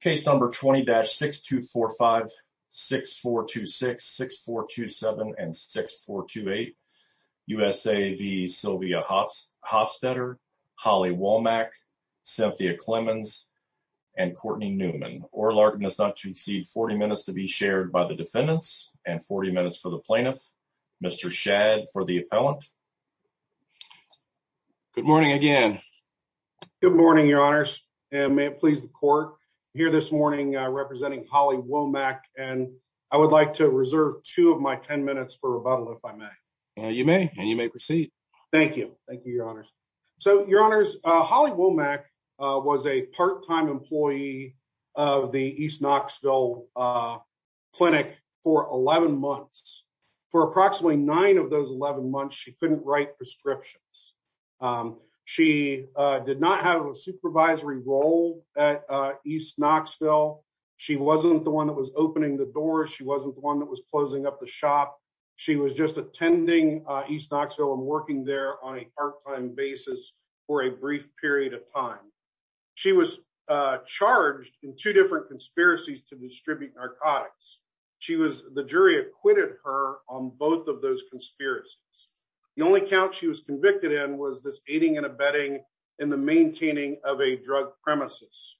Case number 20-6245, 6426, 6427, and 6428. USA v. Sylvia Hofstetter, Holly Womack, Cynthia Clemons, and Courtney Newman. Oral argument is not to exceed 40 minutes to be shared by the defendants and 40 minutes for the plaintiff. Mr. Shadd for the appellant. Good morning again. Good morning, your honors. And may it please the court, here this morning representing Holly Womack. And I would like to reserve two of my 10 minutes for rebuttal, if I may. You may, and you may proceed. Thank you. Thank you, your honors. So your honors, Holly Womack was a part-time employee of the East Knoxville Clinic for 11 months. For approximately nine of those 11 months, she couldn't write prescriptions. She did not have a supervisory role at East Knoxville. She wasn't the one that was opening the door. She wasn't the one that was closing up the shop. She was just attending East Knoxville and working there on a part-time basis for a brief period of time. She was charged in two different conspiracies to distribute narcotics. The jury acquitted her on both of those conspiracies. The only count she was convicted in was this aiding and abetting in the maintaining of a drug premises.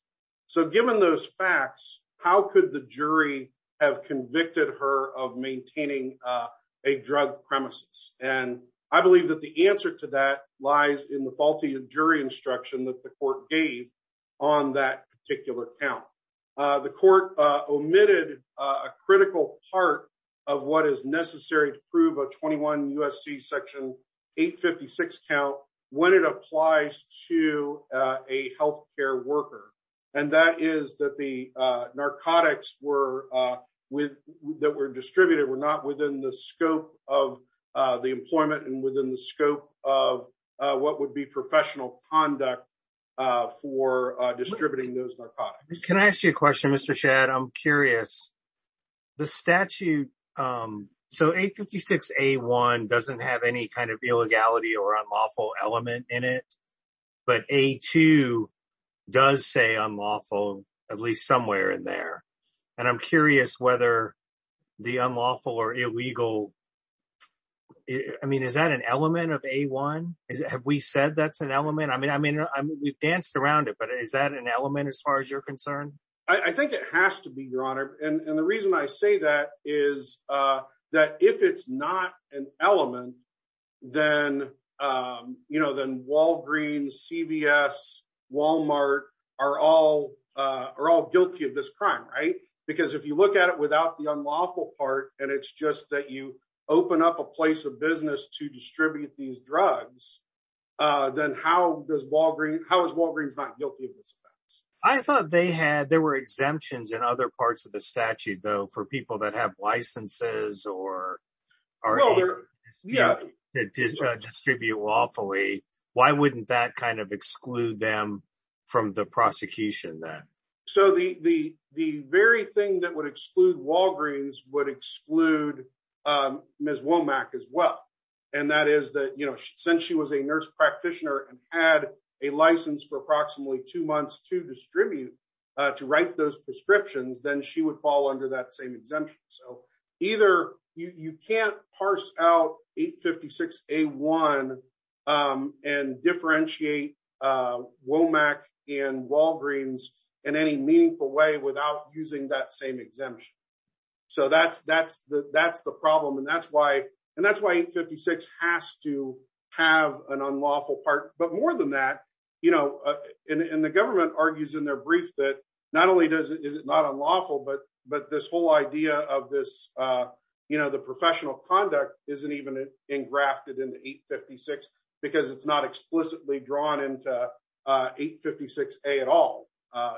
So given those facts, how could the jury have convicted her of maintaining a drug premises? And I believe that the answer to that lies in the faulty jury instruction that the court gave on that particular count. The court omitted a critical part of what is necessary to prove a 21 U.S.C. Section 856 count when it applies to a healthcare worker. And that is that the narcotics that were distributed were not within the scope of the employment and within the scope of what would be professional conduct for distributing those narcotics. Can I ask you a question, Mr. Shadd? I'm curious. The statute, so 856A1 doesn't have any kind of illegality or unlawful element in it. But A2 does say unlawful, at least somewhere in there. And I'm curious whether the unlawful or illegal, I mean, is that an element of A1? Have we said that's an element? I mean, we've danced around it. Is that an element as far as you're concerned? I think it has to be, Your Honor. And the reason I say that is that if it's not an element, then Walgreens, CVS, Walmart are all guilty of this crime, right? Because if you look at it without the unlawful part, and it's just that you open up a place of business to distribute these drugs, then how is Walgreens not guilty of this offense? I thought there were exemptions in other parts of the statute, though, for people that have licenses or are able to distribute lawfully. Why wouldn't that kind of exclude them from the prosecution then? So the very thing that would exclude Walgreens would exclude Ms. Womack as well. And that is that since she was a nurse practitioner and had a license for approximately two months to distribute, to write those prescriptions, then she would fall under that same exemption. So either you can't parse out 856 A1 and differentiate Womack and Walgreens in any meaningful way without using that same exemption. So that's the problem. And that's why 856 has to have an unlawful part. But more than that, and the government argues in their brief that not only is it not unlawful, but this whole idea of the professional conduct isn't even engrafted into 856 because it's not explicitly drawn into 856 A at all.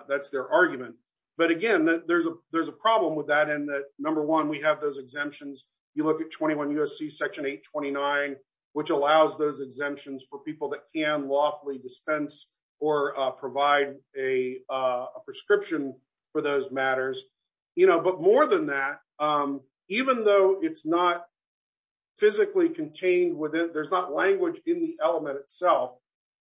That's their argument. But again, there's a problem with that in that, number one, we have those exemptions. You look at 21 U.S.C. Section 829, which allows those exemptions for people that can lawfully dispense or provide a prescription for those matters. But more than that, even though it's not physically contained within, there's not language in the element itself,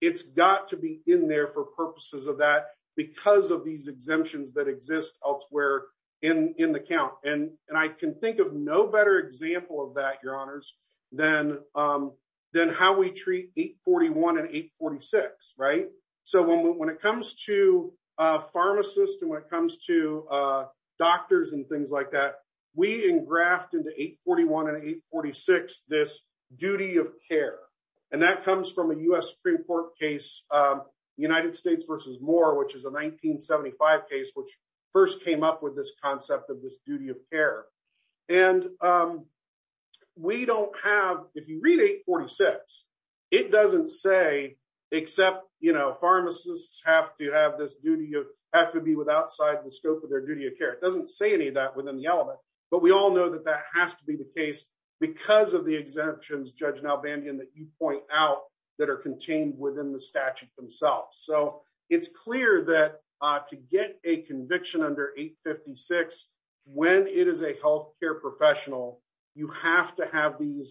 it's got to be in there for purposes of that because of these exemptions that exist elsewhere in the count. And I can think of no better example of that, Your Honors, than how we treat 841 and 846, right? So when it comes to pharmacists and when it comes to doctors and things like that, we engraft into 841 and 846 this duty of care. And that comes from a U.S. Supreme Court case, United States versus Moore, which is a 1975 case, which first came up with this concept of this duty of care. And we don't have, if you read 846, it doesn't say, except, you know, pharmacists have to be outside the scope of their duty of care. It doesn't say any of that within the element. But we all know that that has to be the case because of the exemptions, Judge Nalbandian, that you point out that are contained within the statute themselves. So it's clear that to get a conviction under 856, when it is a health care professional, you have to have these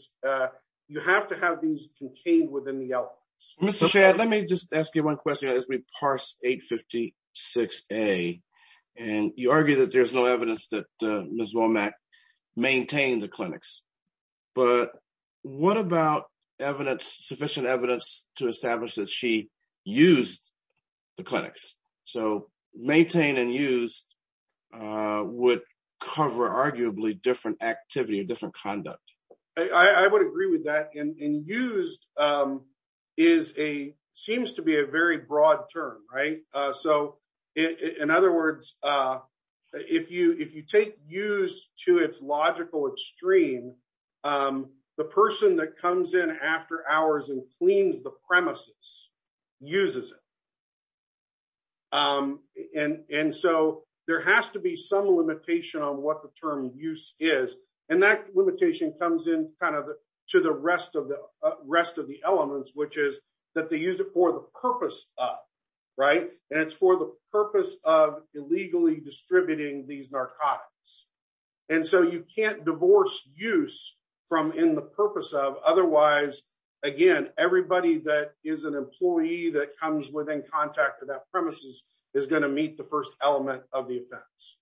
contained within the elements. Mr. Shad, let me just ask you one question as we parse 856A. And you argue that there's no evidence that Ms. Womack maintained the clinics. But what about sufficient evidence to establish that she used the clinics? So maintain and used would cover arguably different activity or different conduct. I would agree with that. And used seems to be a very broad term, right? In other words, if you take used to its logical extreme, the person that comes in after hours and cleans the premises uses it. And so there has to be some limitation on what the term use is. And that limitation comes in kind of to the rest of the elements, which is that they use it for the purpose of, right? It's for the purpose of illegally distributing these narcotics. And so you can't divorce use from in the purpose of otherwise, again, everybody that is an employee that comes within contact with that premises is going to meet the first element of the offense.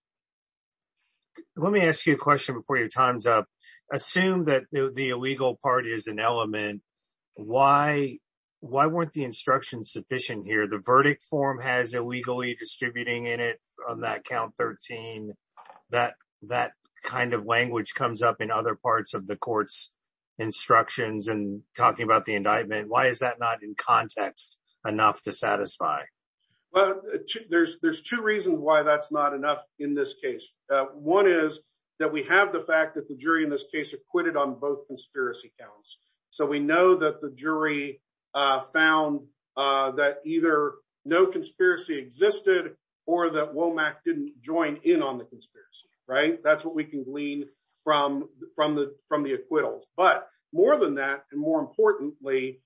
Let me ask you a question before your time's up. Assume that the illegal part is an element. Why weren't the instructions sufficient here? The verdict form has illegally distributing in it on that count 13. That kind of language comes up in other parts of the court's instructions and talking about the indictment. Why is that not in context enough to satisfy? Well, there's two reasons why that's not enough in this case. One is that we have the fact that the jury in this case acquitted on both conspiracy counts. So we know that the jury found that either no conspiracy existed or that Womack didn't join in on the conspiracy, right? That's what we can glean from the acquittals. But more than that, and more importantly,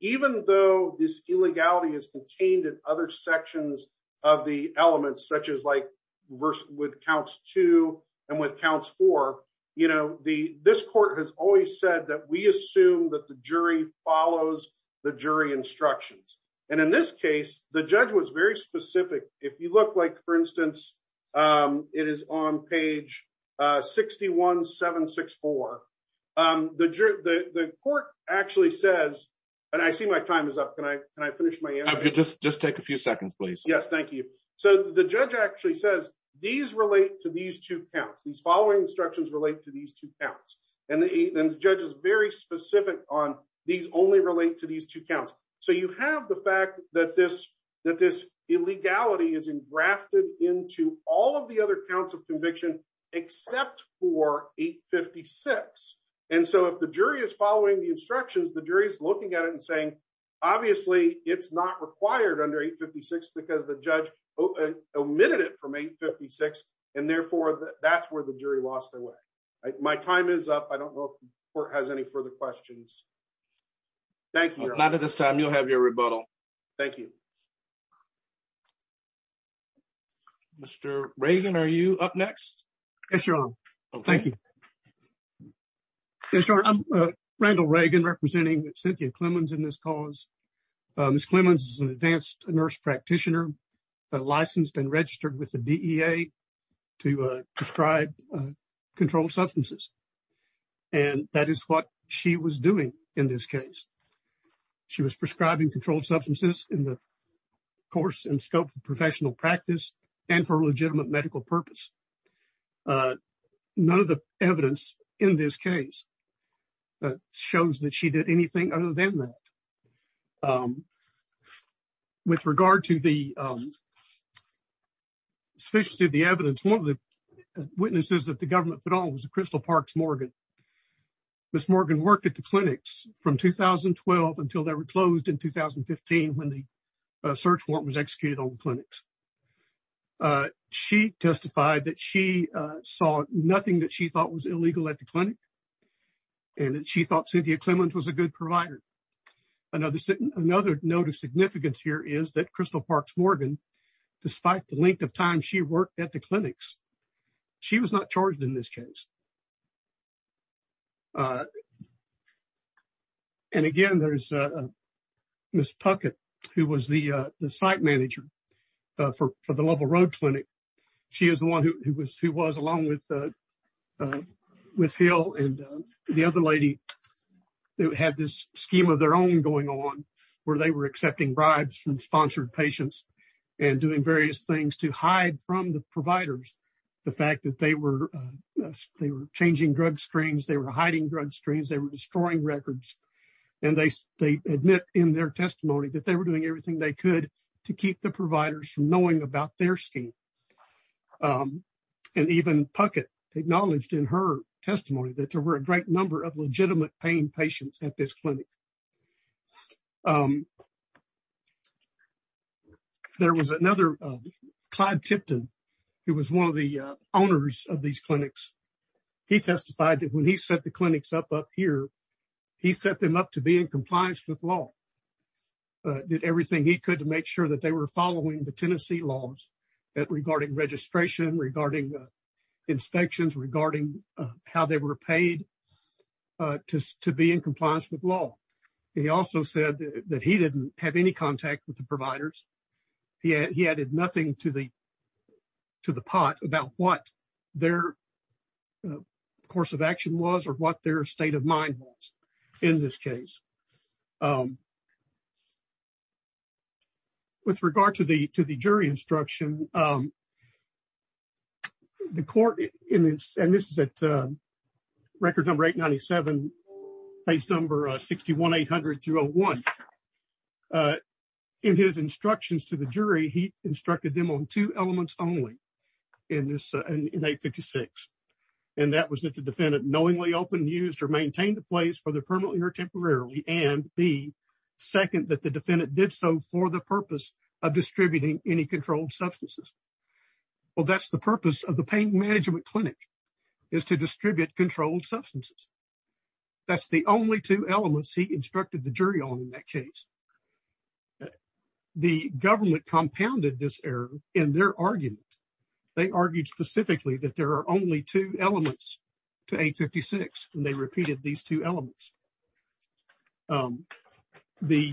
even though this illegality is contained in other sections of the elements, such as like with counts two and with counts four, you know, this court has always said that we assume that the jury follows the jury instructions. And in this case, the judge was very specific. If you look like, for instance, it is on page 61764, the court actually says, and I see my time is up. Can I finish my answer? Just take a few seconds, please. Yes, thank you. So the judge actually says these relate to these two counts. These following instructions relate to these two counts. And the judge is very specific on these only relate to these two counts. So you have the fact that this illegality is engrafted into all of the other counts of conviction, except for 856. And so if the jury is following the instructions, the jury is looking at it and saying, obviously it's not required under 856 because the judge omitted it from 856. And therefore, that's where the jury lost their way. My time is up. I don't know if the court has any further questions. Thank you. Not at this time. You'll have your rebuttal. Thank you. Mr. Reagan, are you up next? Yes, you're on. Okay, thank you. Yes, sir. I'm Randall Reagan, representing Cynthia Clemons in this cause. Ms. Clemons is an advanced nurse practitioner, licensed and registered with the DEA. To prescribe controlled substances. And that is what she was doing in this case. She was prescribing controlled substances in the course and scope of professional practice and for legitimate medical purpose. None of the evidence in this case shows that she did anything other than that. With regard to the sufficiency of the evidence, one of the witnesses that the government put on was Crystal Parks Morgan. Ms. Morgan worked at the clinics from 2012 until they were closed in 2015 when the search warrant was executed on clinics. She testified that she saw nothing that she thought was illegal at the clinic. And she thought Cynthia Clemons was a good provider. Another note of significance here is that Crystal Parks Morgan, despite the length of time she worked at the clinics, she was not charged in this case. And again, there's Ms. Puckett, who was the site manager for the Lovell Road Clinic. She is the one who was along with the other lady who had this scheme of their own going on where they were accepting bribes from sponsored patients and doing various things to hide from the providers the fact that they were changing drug streams, they were hiding drug streams, they were destroying records. And they admit in their testimony that they were doing everything they could to keep the providers from knowing about their scheme. And even Puckett acknowledged in her testimony that there were a great number of legitimate pain patients at this clinic. There was another, Clyde Tipton, who was one of the owners of these clinics. He testified that when he set the clinics up up here, he set them up to be in compliance with law, did everything he could to make sure that they were following the Tennessee laws regarding registration, regarding inspections, regarding how they were paid to be in compliance with law. He also said that he didn't have any contact with the providers. He added nothing to the pot about what their course of action was or what their state of mind was in this case. Um, with regard to the to the jury instruction, um, the court in this, and this is at record number 897 page number 61800201. In his instructions to the jury, he instructed them on two elements only in this in 856. And that was that the defendant knowingly opened used or maintained the place for the permanently or temporarily and the second that the defendant did so for the purpose of distributing any controlled substances. Well, that's the purpose of the pain management clinic is to distribute controlled substances. That's the only two elements he instructed the jury on in that case. The government compounded this error in their argument. They argued specifically that there are only two elements to 856, and they repeated these two elements. The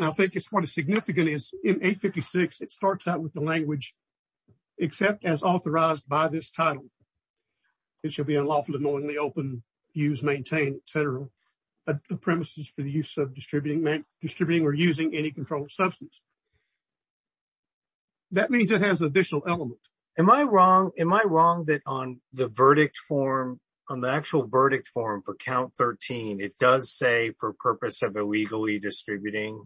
I think it's what a significant is in 856. It starts out with the language, except as authorized by this title. It should be unlawful to knowingly open, use, maintain, et cetera, the premises for the use of distributing, distributing or using any controlled substance. That means it has additional elements. Am I wrong? Am I wrong that on the verdict form on the actual verdict form for count 13, it does say for purpose of illegally distributing.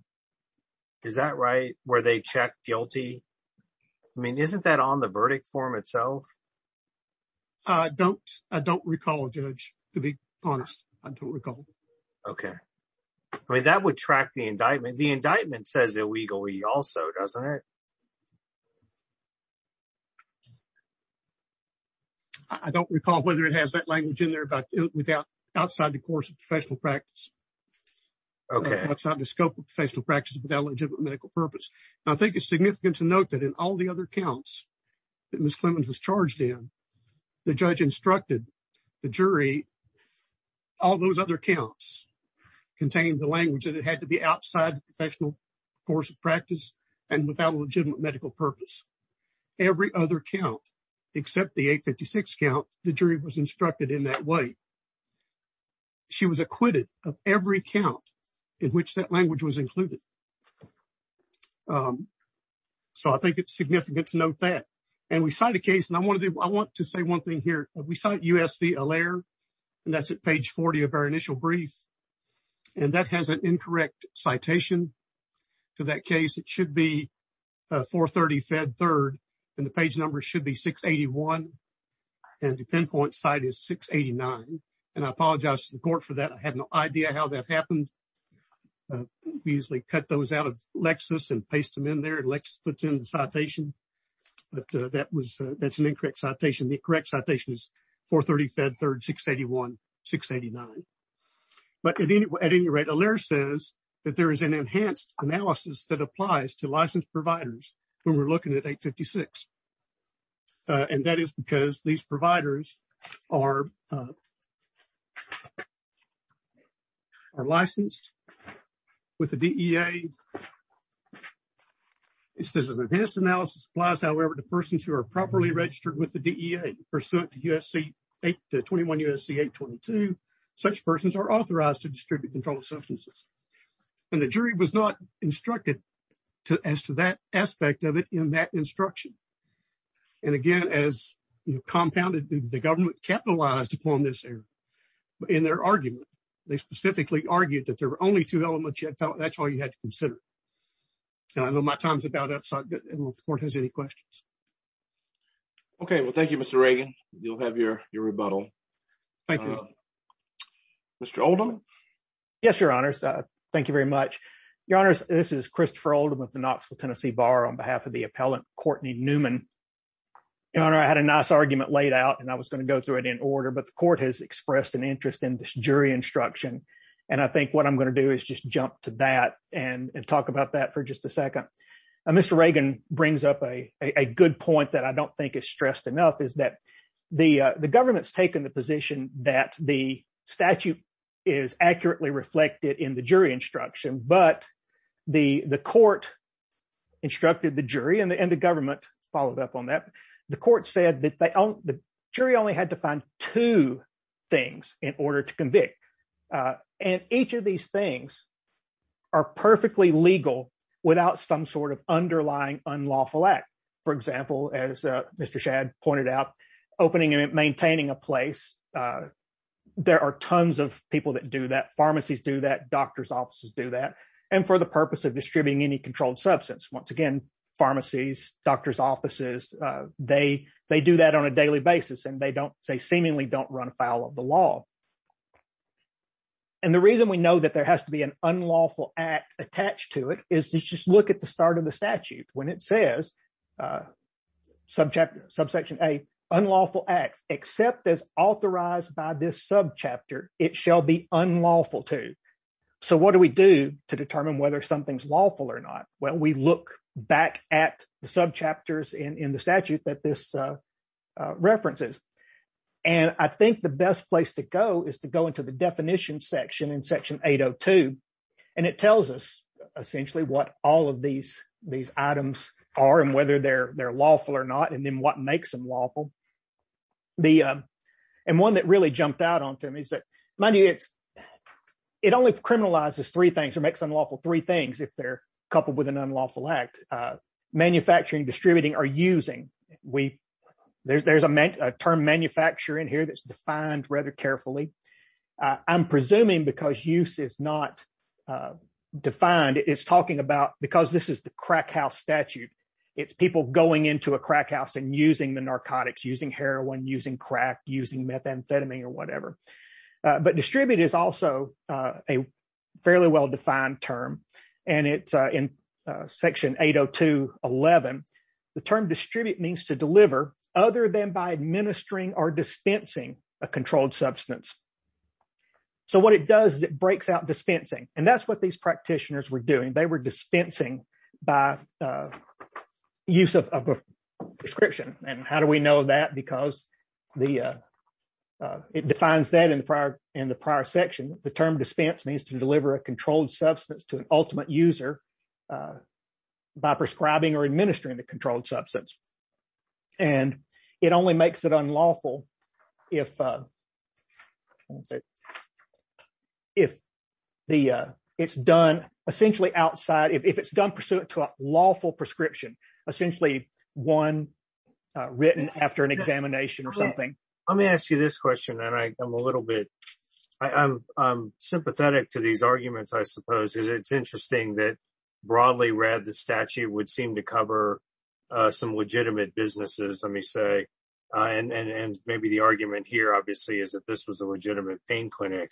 Is that right where they check guilty? I mean, isn't that on the verdict form itself? I don't I don't recall a judge to be honest. I don't recall. OK, I mean, that would track the indictment. The indictment says illegally also, doesn't it? I don't recall whether it has that language in there, but without outside the course of professional practice. OK, that's not the scope of professional practice without legitimate medical purpose. And I think it's significant to note that in all the other counts that Miss Clemens was charged in, the judge instructed the jury. All those other counts contain the language that it had to be outside the professional course of practice and without a legitimate medical purpose. Every other count except the 856 count, the jury was instructed in that way. She was acquitted of every count in which that language was included. So I think it's significant to note that. And we cite a case and I want to I want to say one thing here. We cite U.S. v. Allaire, and that's at page 40 of our initial brief. And that has an incorrect citation to that case. It should be 430 Fed Third and the page number should be 681. And the pinpoint site is 689. And I apologize to the court for that. I had no idea how that happened. We usually cut those out of Lexis and paste them in there. Lexis puts in the citation, but that was that's an incorrect citation. The correct citation is 430 Fed Third 681, 689. But at any rate, Allaire says that there is an enhanced analysis that applies to licensed providers when we're looking at 856. And that is because these providers are. Are licensed with the DEA. It says an enhanced analysis applies, however, to persons who are properly registered with the DEA pursuant to USC 821, USC 822. Such persons are authorized to distribute controlled substances. And the jury was not instructed as to that aspect of it in that instruction. And again, as compounded, the government capitalized upon this error in their argument. They specifically argued that there were only two elements. That's all you had to consider. So I know my time is about up, so I don't know if the court has any questions. OK, well, thank you, Mr. Reagan. You'll have your rebuttal. Thank you, Mr. Oldham. Yes, Your Honor. Thank you very much, Your Honor. This is Christopher Oldham of the Knoxville, Tennessee Bar on behalf of the appellant, Courtney Newman. Your Honor, I had a nice argument laid out and I was going to go through it in order, but the court has expressed an interest in this jury instruction. And I think what I'm going to do is just jump to that and talk about that for just a second. Mr. Reagan brings up a good point that I don't think is stressed enough is that the government's taken the position that the statute is accurately reflected in the jury instruction, but the court instructed the jury and the government followed up on that. The court said that the jury only had to find two things in order to convict. And each of these things are perfectly legal without some sort of underlying unlawful act. For example, as Mr. Shadd pointed out, opening and maintaining a place. There are tons of people that do that. Pharmacies do that. Doctors' offices do that. And for the purpose of distributing any controlled substance, once again, pharmacies, doctors' offices, they do that on a daily basis and they don't, they seemingly don't run afoul of the law. And the reason we know that there has to be an unlawful act attached to it is just look at the start of the statute when it says, subsection A, unlawful acts except as authorized by this subchapter, it shall be unlawful to. So what do we do to determine whether something's lawful or not? Well, we look back at the subchapters in the statute that this references. And I think the best place to go is to go into the definition section in section 802. And it tells us essentially what all of these items are and whether they're lawful or not, and then what makes them lawful. And one that really jumped out on to me is that it only criminalizes three things or makes unlawful three things if they're coupled with an unlawful act. Manufacturing, distributing, or using. There's a term manufacture in here that's defined rather carefully. I'm presuming because use is not defined, it's talking about because this is the crack house statute, it's people going into a crack house and using the narcotics, using heroin, using crack, using methamphetamine or whatever. But distribute is also a fairly well-defined term. And it's in section 802.11. The term distribute means to deliver other than by administering or dispensing a controlled substance. So what it does is it breaks out dispensing. And that's what these practitioners were doing. They were dispensing by use of a prescription. And how do we know that? Because it defines that in the prior section. The term dispense means to deliver a controlled substance to an ultimate user by prescribing or administering the controlled substance. And it only makes it unlawful if it's done essentially outside, if it's done pursuant to a lawful prescription, essentially one written after an examination or something. Let me ask you this question and I'm a little bit, I'm sympathetic to these arguments, I suppose. It's interesting that broadly read, the statute would seem to cover some legitimate businesses, let me say. And maybe the argument here, obviously, is that this was a legitimate pain clinic.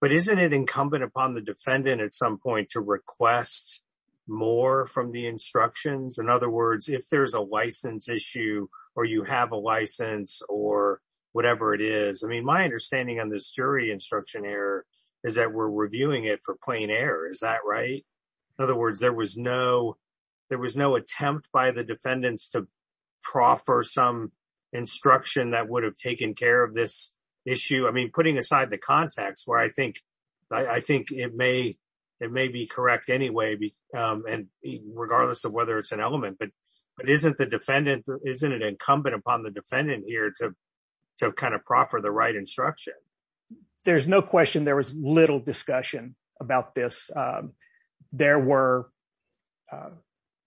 But isn't it incumbent upon the defendant at some point to request more from the instructions? In other words, if there's a license issue or you have a license or whatever it is. I mean, my understanding on this jury instruction error is that we're reviewing it for plain error, is that right? In other words, there was no attempt by the defendants to proffer some instruction that would have taken care of this issue. I mean, putting aside the context where I think it may be correct anyway, regardless of whether it's an element. But isn't it incumbent upon the defendant here to kind of proffer the right instruction? There's no question there was little discussion about this. There were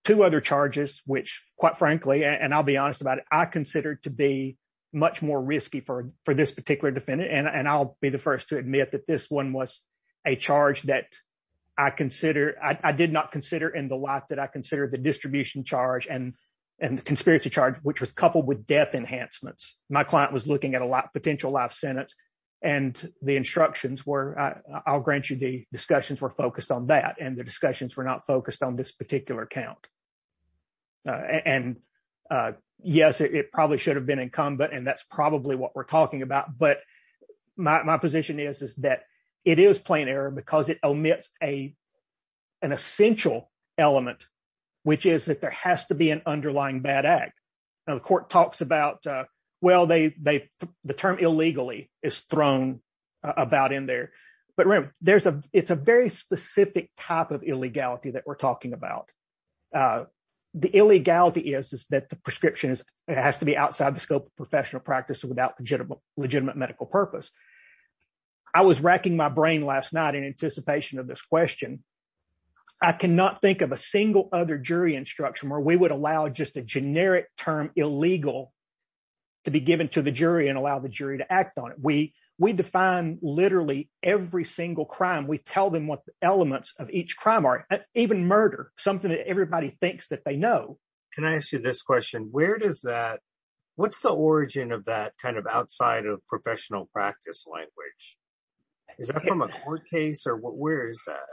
two other charges, which quite frankly, and I'll be honest about it, I consider to be much more risky for this particular defendant. And I'll be the first to admit that this one was a charge that I consider, I did not consider in the life that I consider the distribution charge and the conspiracy charge, which was coupled with death enhancements. My client was looking at a potential life sentence. And the instructions were, I'll grant you the discussions were focused on that. And the discussions were not focused on this particular account. And yes, it probably should have been incumbent. And that's probably what we're talking about. But my position is that it is plain error because it omits an essential element, which is that there has to be an underlying bad act. The court talks about, well, the term illegally is thrown about in there. But it's a very specific type of illegality that we're talking about. The illegality is that the prescription has to be outside the scope of professional practice without legitimate medical purpose. I was racking my brain last night in anticipation of this question. I cannot think of a single other jury instruction where we would allow just a generic term illegal to be given to the jury and allow the jury to act on it. We define literally every single crime. We tell them what the elements of each crime are, even murder, something that everybody thinks that they know. Can I ask you this question? Where does that, what's the origin of that kind of outside of professional practice language? Is that from a court case or where is that?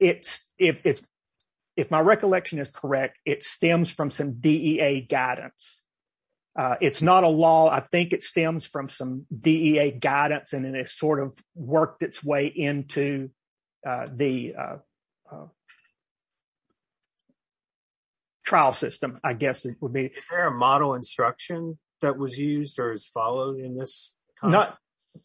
It's, if my recollection is correct, it stems from some DEA guidance. It's not a law. I think it stems from some DEA guidance and then it sort of worked its way into the trial system, I guess it would be. Is there a model instruction that was used or is followed in this?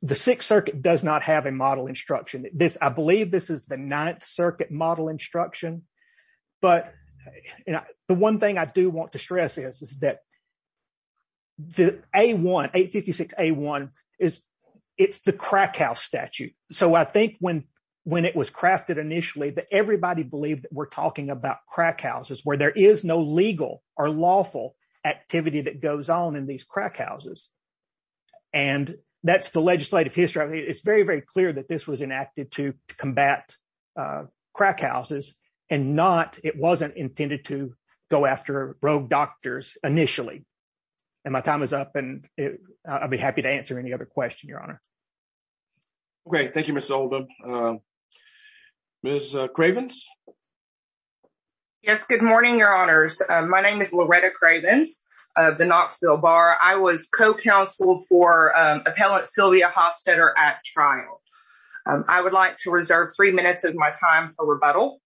The Sixth Circuit does not have a model instruction. I believe this is the Ninth Circuit model instruction, but the one thing I do want to stress is that the 856A1, it's the crack house statute. So I think when it was crafted initially that everybody believed that we're talking about crack houses where there is no legal or lawful activity that goes on in these crack houses. And that's the legislative history. It's very, very clear that this was enacted to combat crack houses and not, it wasn't intended to go after rogue doctors initially. And my time is up and I'll be happy to answer any other question, Your Honor. Okay. Thank you, Ms. Oldham. Ms. Cravens? Yes. Good morning, Your Honors. My name is Loretta Cravens of the Knoxville Bar. I was co-counsel for Appellant Sylvia Hofstadter at trial. I would like to reserve three minutes of my time for rebuttal.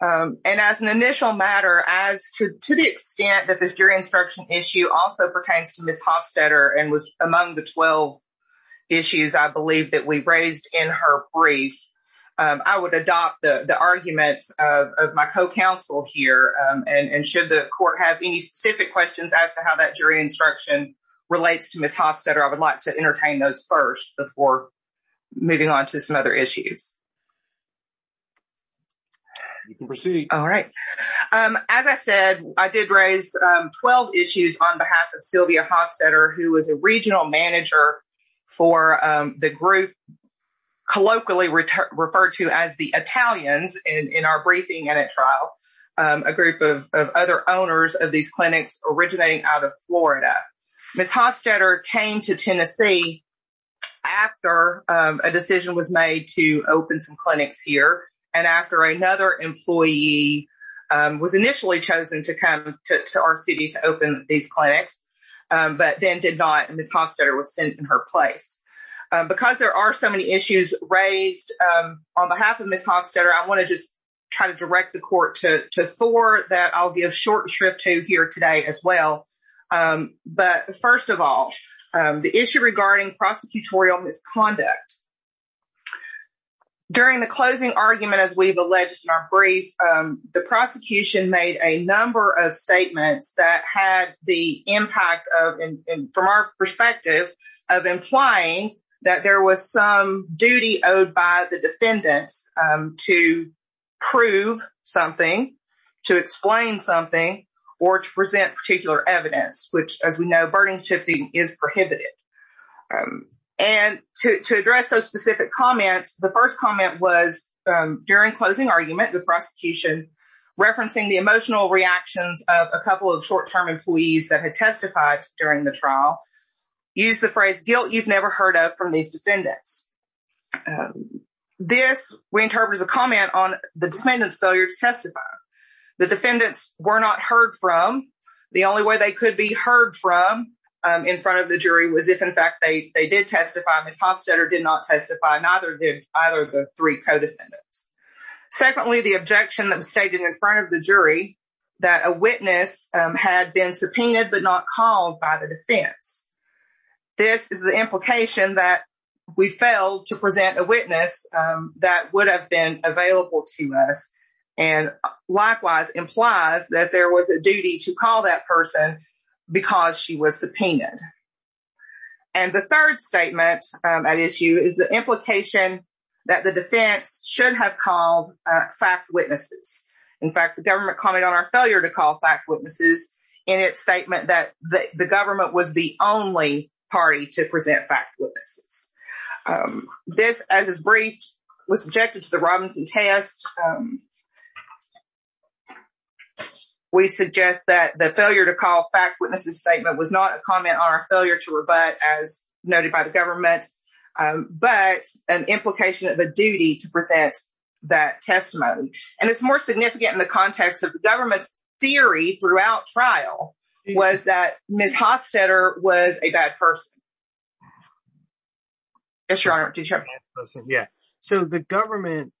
And as an initial matter, as to the extent that this jury instruction issue also pertains to Ms. Hofstadter and was among the 12 issues I believe that we raised in her brief, I would adopt the arguments of my co-counsel here and should the court have any specific questions as to how that jury instruction relates to Ms. Hofstadter, I would like to entertain those first before moving on to some other issues. You can proceed. All right. As I said, I did raise 12 issues on behalf of Sylvia Hofstadter, who was a regional manager for the group colloquially referred to as the Italians in our briefing and at trial. A group of other owners of these clinics originating out of Florida. Ms. Hofstadter came to Tennessee after a decision was made to open some clinics here and after another employee was initially chosen to come to our city to open these clinics, but then did not and Ms. Hofstadter was sent in her place. Because there are so many issues raised on behalf of Ms. Hofstadter, I want to just try to direct the court to Thor that I'll give short shrift to here today as well. But first of all, the issue regarding prosecutorial misconduct. During the closing argument, as we've alleged in our brief, the prosecution made a number of statements that had the impact of, from our perspective, of implying that there was duty owed by the defendants to prove something, to explain something, or to present particular evidence, which as we know, burden shifting is prohibited. And to address those specific comments, the first comment was during closing argument, the prosecution referencing the emotional reactions of a couple of short-term employees that had testified during the trial, used the phrase guilt you've never heard of from these defendants. This we interpret as a comment on the defendant's failure to testify. The defendants were not heard from. The only way they could be heard from in front of the jury was if, in fact, they did testify. Ms. Hofstadter did not testify. Neither did either of the three co-defendants. Secondly, the objection that was stated in front of the jury that a witness had been subpoenaed but not called by the defense. This is the implication that we failed to present a witness that would have been available to us and likewise implies that there was a duty to call that person because she was subpoenaed. And the third statement at issue is the implication that the defense should have called fact witnesses. In fact, the government commented on our failure to call fact witnesses in its statement that the government was the only party to present fact witnesses. This, as is briefed, was subjected to the Robinson test. We suggest that the failure to call fact witnesses statement was not a comment on our failure to rebut, as noted by the government, but an implication of a duty to present that testimony. And it's more significant in the context of the government's theory throughout trial was that Ms. Hostetter was a bad person. Yes, Your Honor. So the government,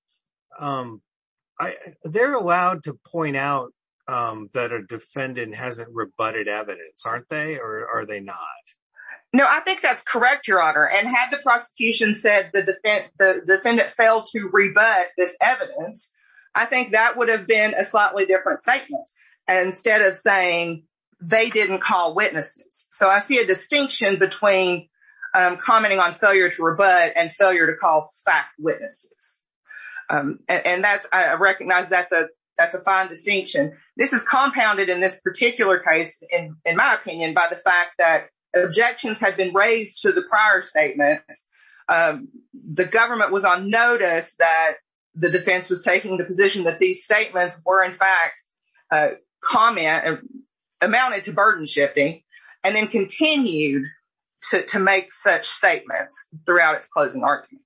they're allowed to point out that a defendant hasn't rebutted evidence, aren't they? Or are they not? No, I think that's correct, Your Honor. And had the prosecution said the defendant failed to rebut this evidence, I think that would have been a slightly different statement instead of saying they didn't call witnesses. So I see a distinction between commenting on failure to rebut and failure to call fact witnesses. And I recognize that's a fine distinction. This is compounded in this particular case, in my opinion, by the fact that objections have been raised to the prior statements. The government was on notice that the defense was taking the position that these statements were, in fact, comment and amounted to burden shifting and then continued to make such statements throughout its closing argument.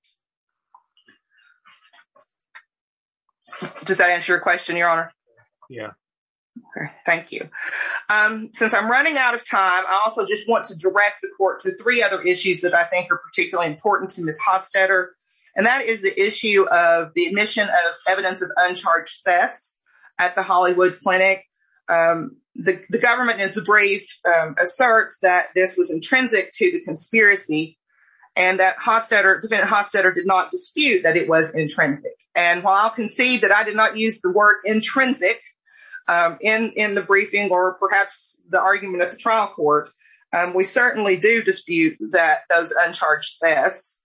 Does that answer your question, Your Honor? Yeah. Thank you. Since I'm running out of time, I also just want to direct the court to three other issues that I think are particularly important to Ms. Hofstadter. And that is the issue of the admission of evidence of uncharged thefts at the Hollywood Clinic. The government, in its brief, asserts that this was intrinsic to the conspiracy, and that defendant Hofstadter did not dispute that it was intrinsic. And while I'll concede that I did not use the word intrinsic in the briefing or perhaps the argument at the trial court, we certainly do dispute that those uncharged thefts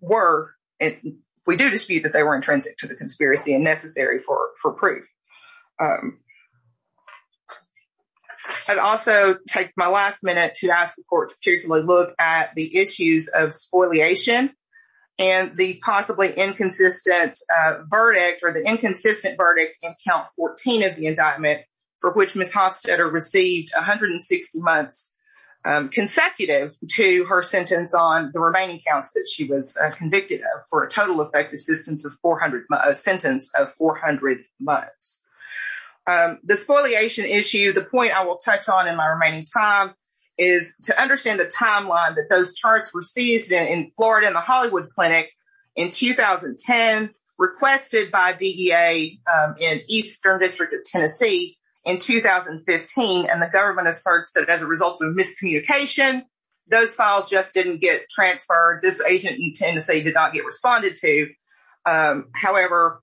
were, we do dispute that they were intrinsic to the conspiracy and necessary for proof. I'd also take my last minute to ask the court to particularly look at the issues of spoliation and the possibly inconsistent verdict or the inconsistent verdict in Count 14 of the indictment for which Ms. Hofstadter received 160 months consecutive to her sentence on the remaining counts that she was convicted of for a total effective sentence of 400 months. The spoliation issue, the point I will touch on in my remaining time, is to understand the timeline that those charts were seized in Florida in the Hollywood Clinic in 2010, requested by DEA in Eastern District of Tennessee in 2015. And the government asserts that as a result of miscommunication, those files just didn't get transferred. This agent in Tennessee did not get responded to. However,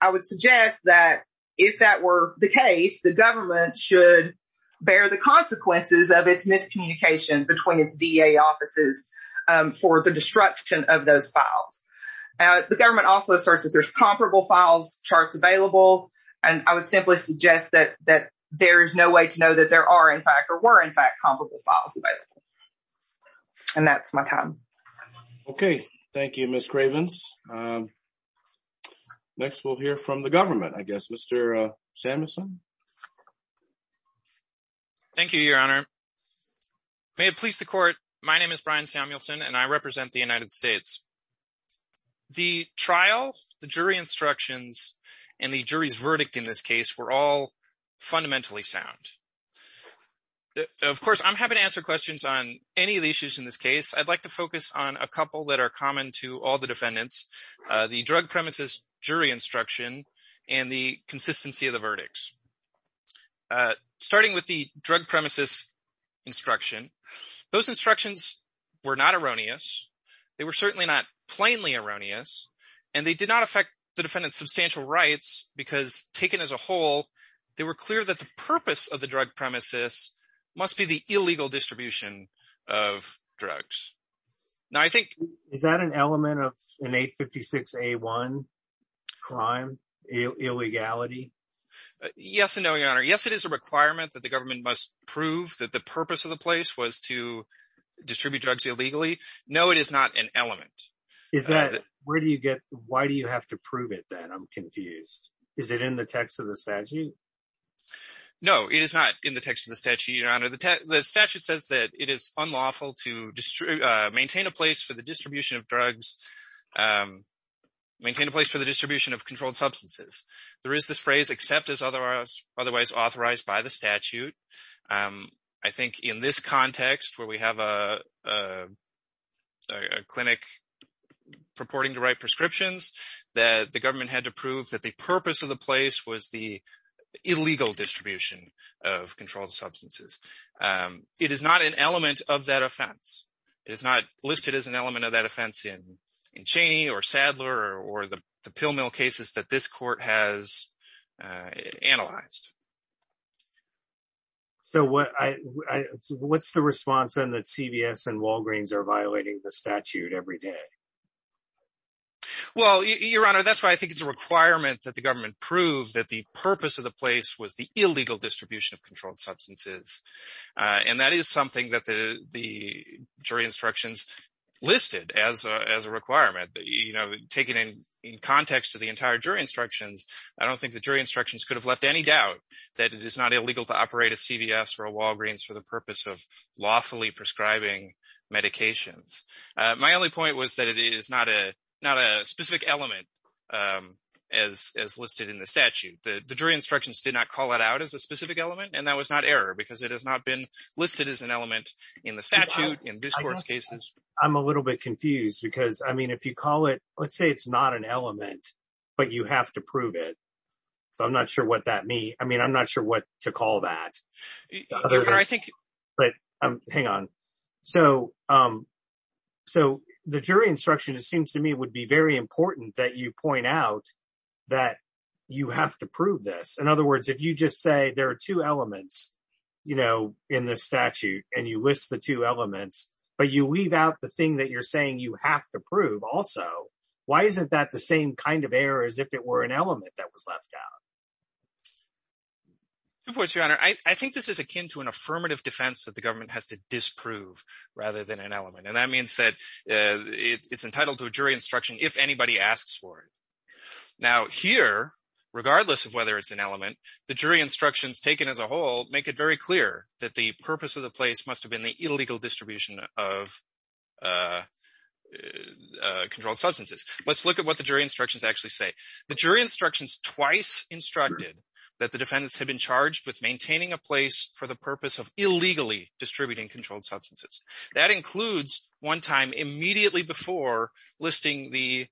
I would suggest that if that were the case, the government should bear the consequences of its miscommunication between its DEA offices for the destruction of those files. The government also asserts that there's comparable files charts available, and I would simply suggest that there is no way to know that there are in fact or were in fact comparable files available. And that's my time. Okay. Thank you, Ms. Cravens. Next, we'll hear from the government, I guess. Mr. Samuelson. Thank you, Your Honor. May it please the court, my name is Brian Samuelson, and I represent the United States. The trial, the jury instructions, and the jury's verdict in this case were all fundamentally sound. Of course, I'm happy to answer questions on any of the issues in this case. I'd like to focus on a couple that are common to all the defendants, the drug premises jury instruction and the consistency of the verdicts. Starting with the drug premises instruction, those instructions were not erroneous. They were certainly not plainly erroneous, and they did not affect the defendant's substantial rights because taken as a whole, they were clear that the purpose of the drug premises must be the illegal distribution of drugs. Now, I think... Is that an element of an 856A1 crime, illegality? Yes and no, Your Honor. Yes, it is a requirement that the government must prove that the purpose of the place was to distribute drugs illegally. No, it is not an element. Why do you have to prove it then? I'm confused. Is it in the text of the statute? No, it is not in the text of the statute, Your Honor. The statute says that it is unlawful to maintain a place for the distribution of controlled substances. There is this phrase, except as otherwise authorized by the statute. I think in this context where we have a clinic purporting to write prescriptions, that the government had to prove that the purpose of the place was the illegal distribution of controlled substances. It is not an element of that offense. It is not listed as an element of that offense in Cheney or Sadler or the pill mill cases that this court has analyzed. So what's the response then that CVS and Walgreens are violating the statute every day? Well, Your Honor, that's why I think it's a requirement that the government prove that the purpose of the place was the illegal distribution of controlled substances. That is something that the jury instructions listed as a requirement. Taken in context to the entire jury instructions, I don't think the jury instructions could have left any doubt that it is not illegal to operate a CVS or a Walgreens for the purpose of lawfully prescribing medications. My only point was that it is not a specific element as listed in the statute. The jury instructions did not call it out as a specific element, and that was not error because it has not been listed as an element in the statute, in this court's cases. I'm a little bit confused because, I mean, if you call it, let's say it's not an element, but you have to prove it. So I'm not sure what that means. I mean, I'm not sure what to call that. But hang on. So the jury instruction, it seems to me, would be very important that you point out that you have to prove this. In other words, if you just say there are two elements in this statute and you list the two elements, but you leave out the thing that you're saying you have to prove also, why isn't that the same kind of error as if it were an element that was left out? Two points, Your Honor. I think this is akin to an affirmative defense that the government has to disprove rather than an element, and that means that it's entitled to a jury instruction if anybody asks for it. Now here, regardless of whether it's an element, the jury instructions taken as a whole make it very clear that the purpose of the place must have been the illegal distribution of controlled substances. Let's look at what the jury instructions actually say. The jury instructions twice instructed that the defendants had been charged with maintaining a place for the purpose of illegally distributing controlled substances. That includes one time immediately before listing the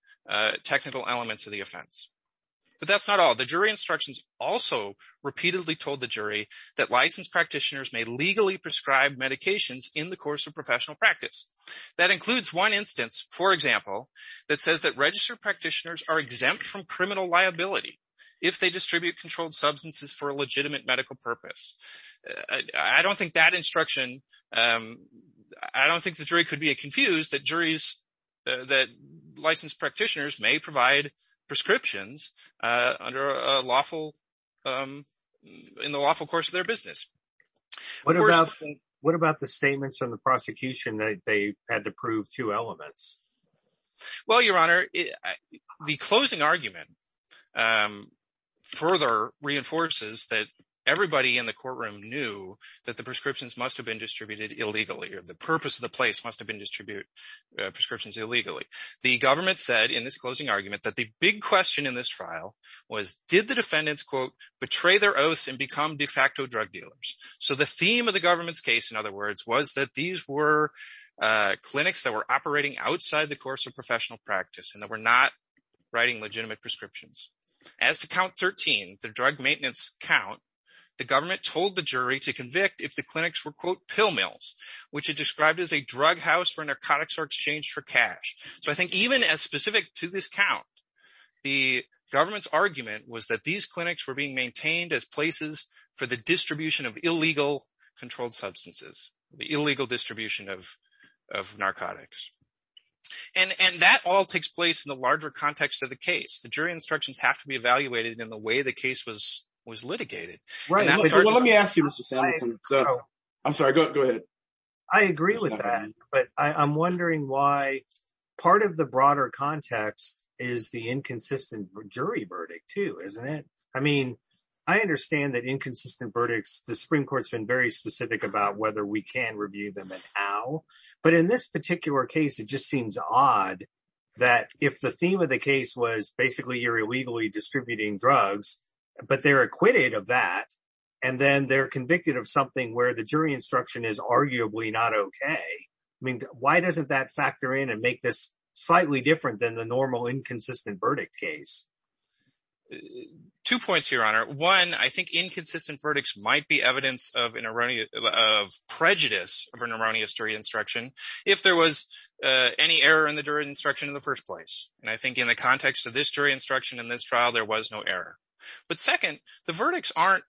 technical elements of the offense. But that's not all. The jury instructions also repeatedly told the jury that licensed practitioners may legally prescribe medications in the course of professional practice. That includes one instance, for example, that says that registered practitioners are exempt from criminal liability if they distribute controlled substances for a legitimate medical purpose. I don't think that instruction, I don't think the jury could be confused that juries, that licensed practitioners may provide prescriptions under a lawful, in the lawful course of their business. What about, what about the statements from the prosecution that they had to prove two elements? Well, your honor, the closing argument further reinforces that everybody in the courtroom knew that the prescriptions must have been distributed illegally, or the purpose of the place must have been distribute prescriptions illegally. The government said in this closing argument that the big question in this file was did defendants, quote, betray their oaths and become de facto drug dealers? So the theme of the government's case, in other words, was that these were clinics that were operating outside the course of professional practice and that were not writing legitimate prescriptions. As to count 13, the drug maintenance count, the government told the jury to convict if the clinics were, quote, pill mills, which it described as a drug house where narcotics are exchanged for cash. So I think even as specific to this count, the government's argument was that these clinics were being maintained as places for the distribution of illegal controlled substances, the illegal distribution of of narcotics. And that all takes place in the larger context of the case. The jury instructions have to be evaluated in the way the case was was litigated. Right, let me ask you, Mr. Samuelson, I'm sorry, go ahead. I agree with that, but I'm wondering why part of the broader context is the inconsistent jury verdict, too, isn't it? I mean, I understand that inconsistent verdicts, the Supreme Court's been very specific about whether we can review them and how. But in this particular case, it just seems odd that if the theme of the case was basically you're illegally distributing drugs, but they're acquitted of that and then they're arguably not OK. I mean, why doesn't that factor in and make this slightly different than the normal inconsistent verdict case? Two points, Your Honor. One, I think inconsistent verdicts might be evidence of an erroneous of prejudice of an erroneous jury instruction if there was any error in the jury instruction in the first place. And I think in the context of this jury instruction in this trial, there was no error. But second, the verdicts aren't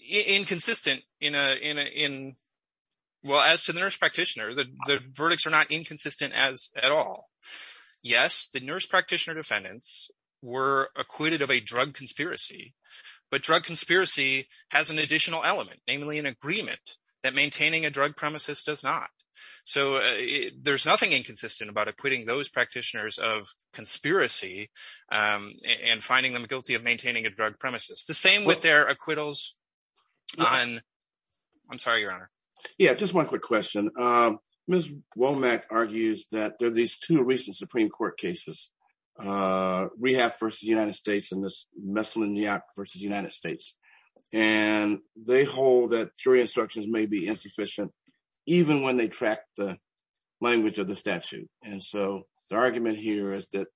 inconsistent in, well, as to the nurse practitioner, the verdicts are not inconsistent at all. Yes, the nurse practitioner defendants were acquitted of a drug conspiracy, but drug conspiracy has an additional element, namely an agreement that maintaining a drug premises does not. So there's nothing inconsistent about acquitting those practitioners of conspiracy and finding them guilty of maintaining a drug premises. The same with their acquittals on. I'm sorry, Your Honor. Yeah, just one quick question. Ms. Womack argues that there are these two recent Supreme Court cases, Rehab v. United States and Ms. Messlin-Yak v. United States. And they hold that jury instructions may be insufficient, even when they track the language of the statute. And so the argument here is that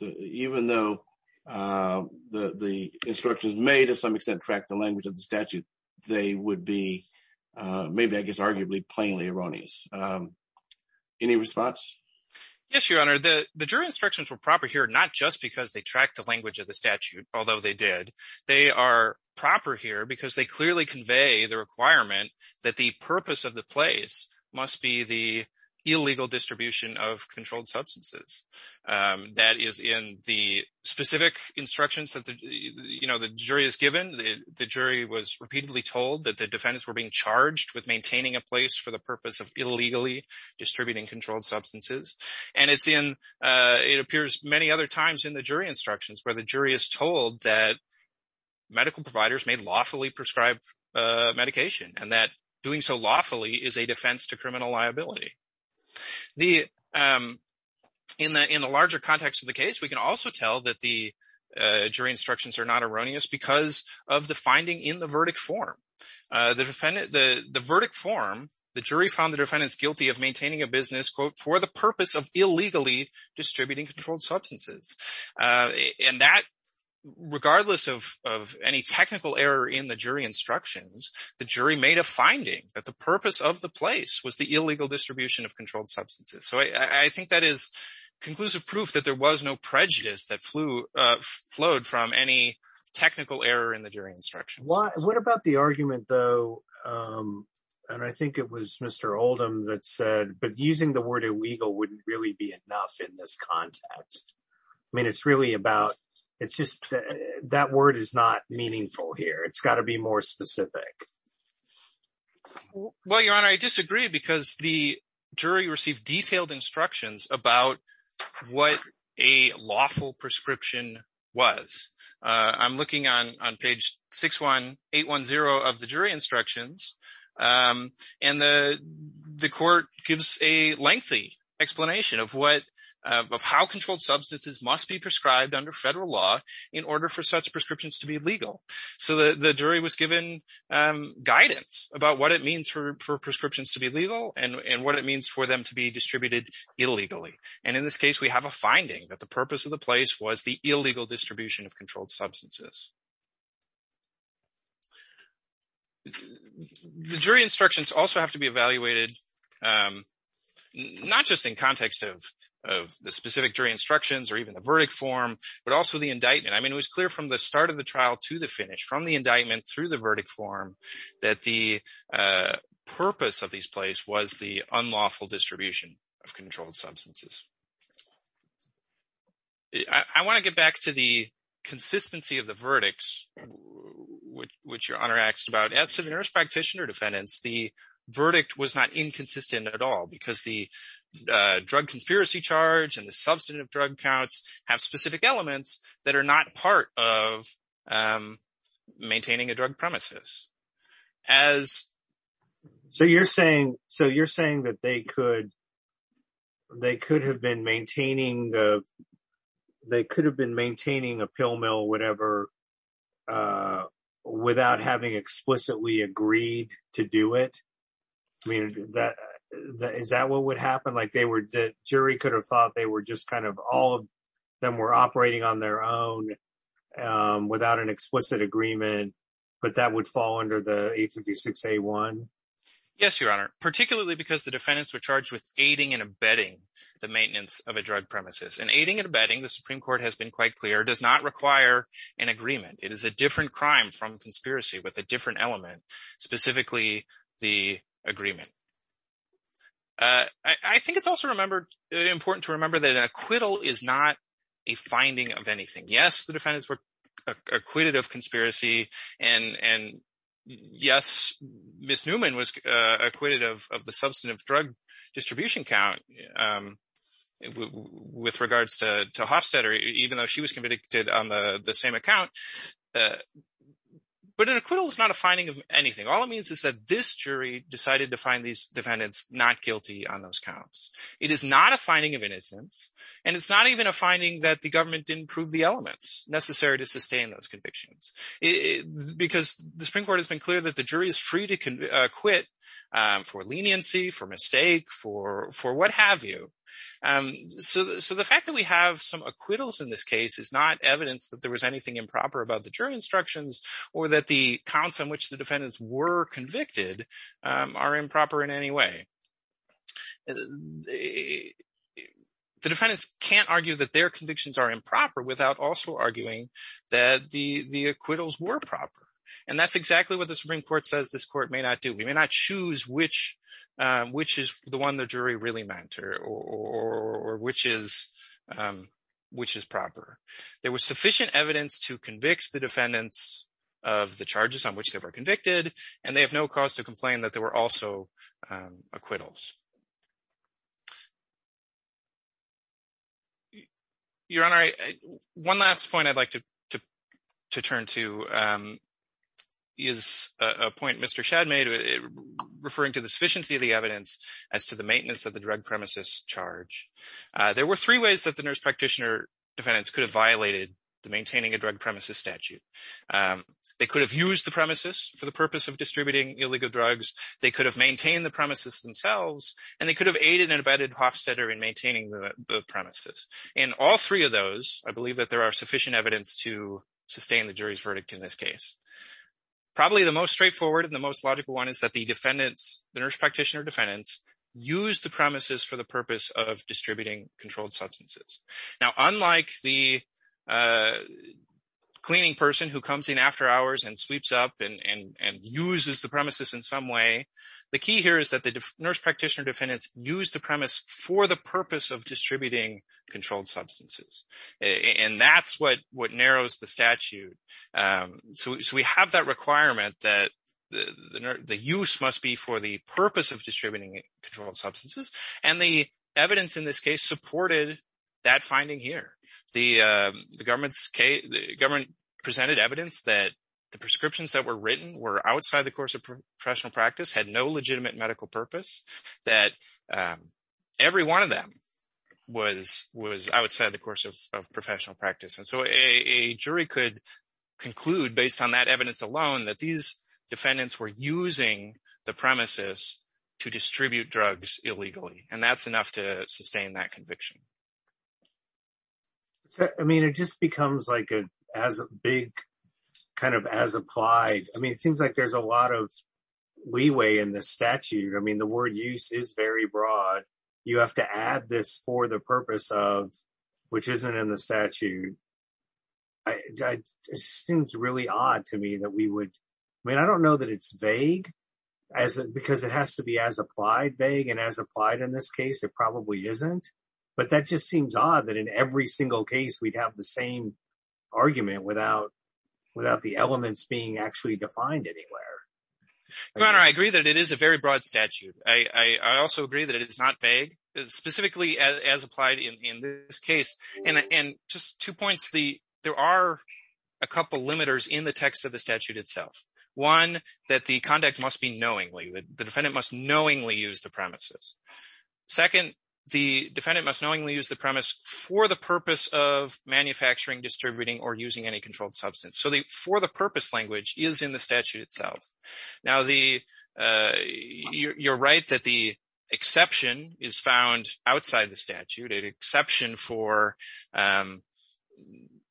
even though the instructions may, to some extent, track the language of the statute, they would be maybe, I guess, arguably, plainly erroneous. Any response? Yes, Your Honor, the jury instructions were proper here, not just because they track the language of the statute, although they did. They are proper here because they clearly convey the requirement that the purpose of the place must be the illegal distribution of controlled substances. That is in the specific instructions that the jury is given. The jury was repeatedly told that the defendants were being charged with maintaining a place for the purpose of illegally distributing controlled substances. And it's in, it appears many other times in the jury instructions where the jury is told that medical providers may lawfully prescribe medication and that doing so lawfully is a defense to criminal liability. The, in the larger context of the case, we can also tell that the jury instructions are not erroneous because of the finding in the verdict form. The defendant, the verdict form, the jury found the defendants guilty of maintaining a business, quote, for the purpose of illegally distributing controlled substances. And that, regardless of any technical error in the jury instructions, the jury made a finding that the purpose of the place was the illegal distribution of controlled substances. So, I think that is conclusive proof that there was no prejudice that flew, flowed from any technical error in the jury instructions. What about the argument, though, and I think it was Mr. Oldham that said, but using the word illegal wouldn't really be enough in this context. I mean, it's really about, it's just that word is not meaningful here. It's got to be more specific. Well, Your Honor, I disagree because the jury received detailed instructions about what a lawful prescription was. I'm looking on page 61810 of the jury instructions and the court gives a lengthy explanation of what, of how controlled substances must be prescribed under federal law in order for such prescriptions to be legal. So, the jury was given guidance about what it means for prescriptions to be legal and what it means for them to be distributed illegally. And in this case, we have a finding that the purpose of the place was the illegal distribution of controlled substances. The jury instructions also have to be evaluated not just in context of the specific jury instructions or even the verdict form, but also the indictment. I mean, it was clear from the start of the trial to the finish, from the indictment through the verdict form, that the purpose of these place was the unlawful distribution of controlled substances. I want to get back to the consistency of the verdicts, which Your Honor asked about. As to the nurse practitioner defendants, the verdict was not inconsistent at all, because the drug conspiracy charge and the substantive drug counts have specific elements that are not part of maintaining a drug premises. As... maintaining a pill mill, whatever, without having explicitly agreed to do it? I mean, is that what would happen? Jury could have thought they were just kind of all of them were operating on their own without an explicit agreement, but that would fall under the 856-A1? Yes, Your Honor, particularly because the defendants were charged with aiding and abetting the maintenance of a drug premises. And aiding and abetting, the Supreme Court has been quite clear, does not require an agreement. It is a different crime from conspiracy with a different element, specifically the agreement. I think it's also important to remember that an acquittal is not a finding of anything. Yes, the defendants were acquitted of conspiracy, and yes, Ms. Newman was acquitted of the with regards to Hofstadter, even though she was convicted on the same account. But an acquittal is not a finding of anything. All it means is that this jury decided to find these defendants not guilty on those counts. It is not a finding of innocence, and it's not even a finding that the government didn't prove the elements necessary to sustain those convictions. Because the Supreme Court has been clear that the jury is free to quit for leniency, for So the fact that we have some acquittals in this case is not evidence that there was anything improper about the jury instructions or that the counts on which the defendants were convicted are improper in any way. The defendants can't argue that their convictions are improper without also arguing that the acquittals were proper. And that's exactly what the Supreme Court says this court may not do. Which is the one the jury really meant or which is proper. There was sufficient evidence to convict the defendants of the charges on which they were convicted, and they have no cause to complain that there were also acquittals. Your Honor, one last point I'd like to turn to is a point Mr. Shadmay referring to the evidence as to the maintenance of the drug premises charge. There were three ways that the nurse practitioner defendants could have violated the maintaining a drug premises statute. They could have used the premises for the purpose of distributing illegal drugs. They could have maintained the premises themselves. And they could have aided and abetted Hofstadter in maintaining the premises. In all three of those, I believe that there are sufficient evidence to sustain the jury's verdict in this case. Probably the most straightforward and the most logical one is that the defendants, the nurse practitioner defendants, use the premises for the purpose of distributing controlled substances. Now, unlike the cleaning person who comes in after hours and sweeps up and uses the premises in some way, the key here is that the nurse practitioner defendants use the premise for the purpose of distributing controlled substances. And that's what narrows the statute. So we have that requirement that the use must be for the purpose of distributing controlled substances. And the evidence in this case supported that finding here. The government presented evidence that the prescriptions that were written were outside the course of professional practice, had no legitimate medical purpose, that every one of them was outside the course of professional practice. And so a jury could conclude, based on that evidence alone, that these defendants were using the premises to distribute drugs illegally. And that's enough to sustain that conviction. I mean, it just becomes like a big kind of as applied. I mean, it seems like there's a lot of leeway in the statute. I mean, the word use is very broad. You have to add this for the purpose of, which isn't in the statute. It seems really odd to me that we would. I mean, I don't know that it's vague, because it has to be as applied vague and as applied in this case, it probably isn't. But that just seems odd that in every single case, we'd have the same argument without the elements being actually defined anywhere. Your Honor, I agree that it is a very broad statute. I also agree that it is not vague, specifically as applied in this case. And just two points. There are a couple of limiters in the text of the statute itself. One, that the conduct must be knowingly. The defendant must knowingly use the premises. Second, the defendant must knowingly use the premise for the purpose of manufacturing, distributing, or using any controlled substance. So the for the purpose language is in the statute itself. Now, you're right that the exception is found outside the statute. An exception for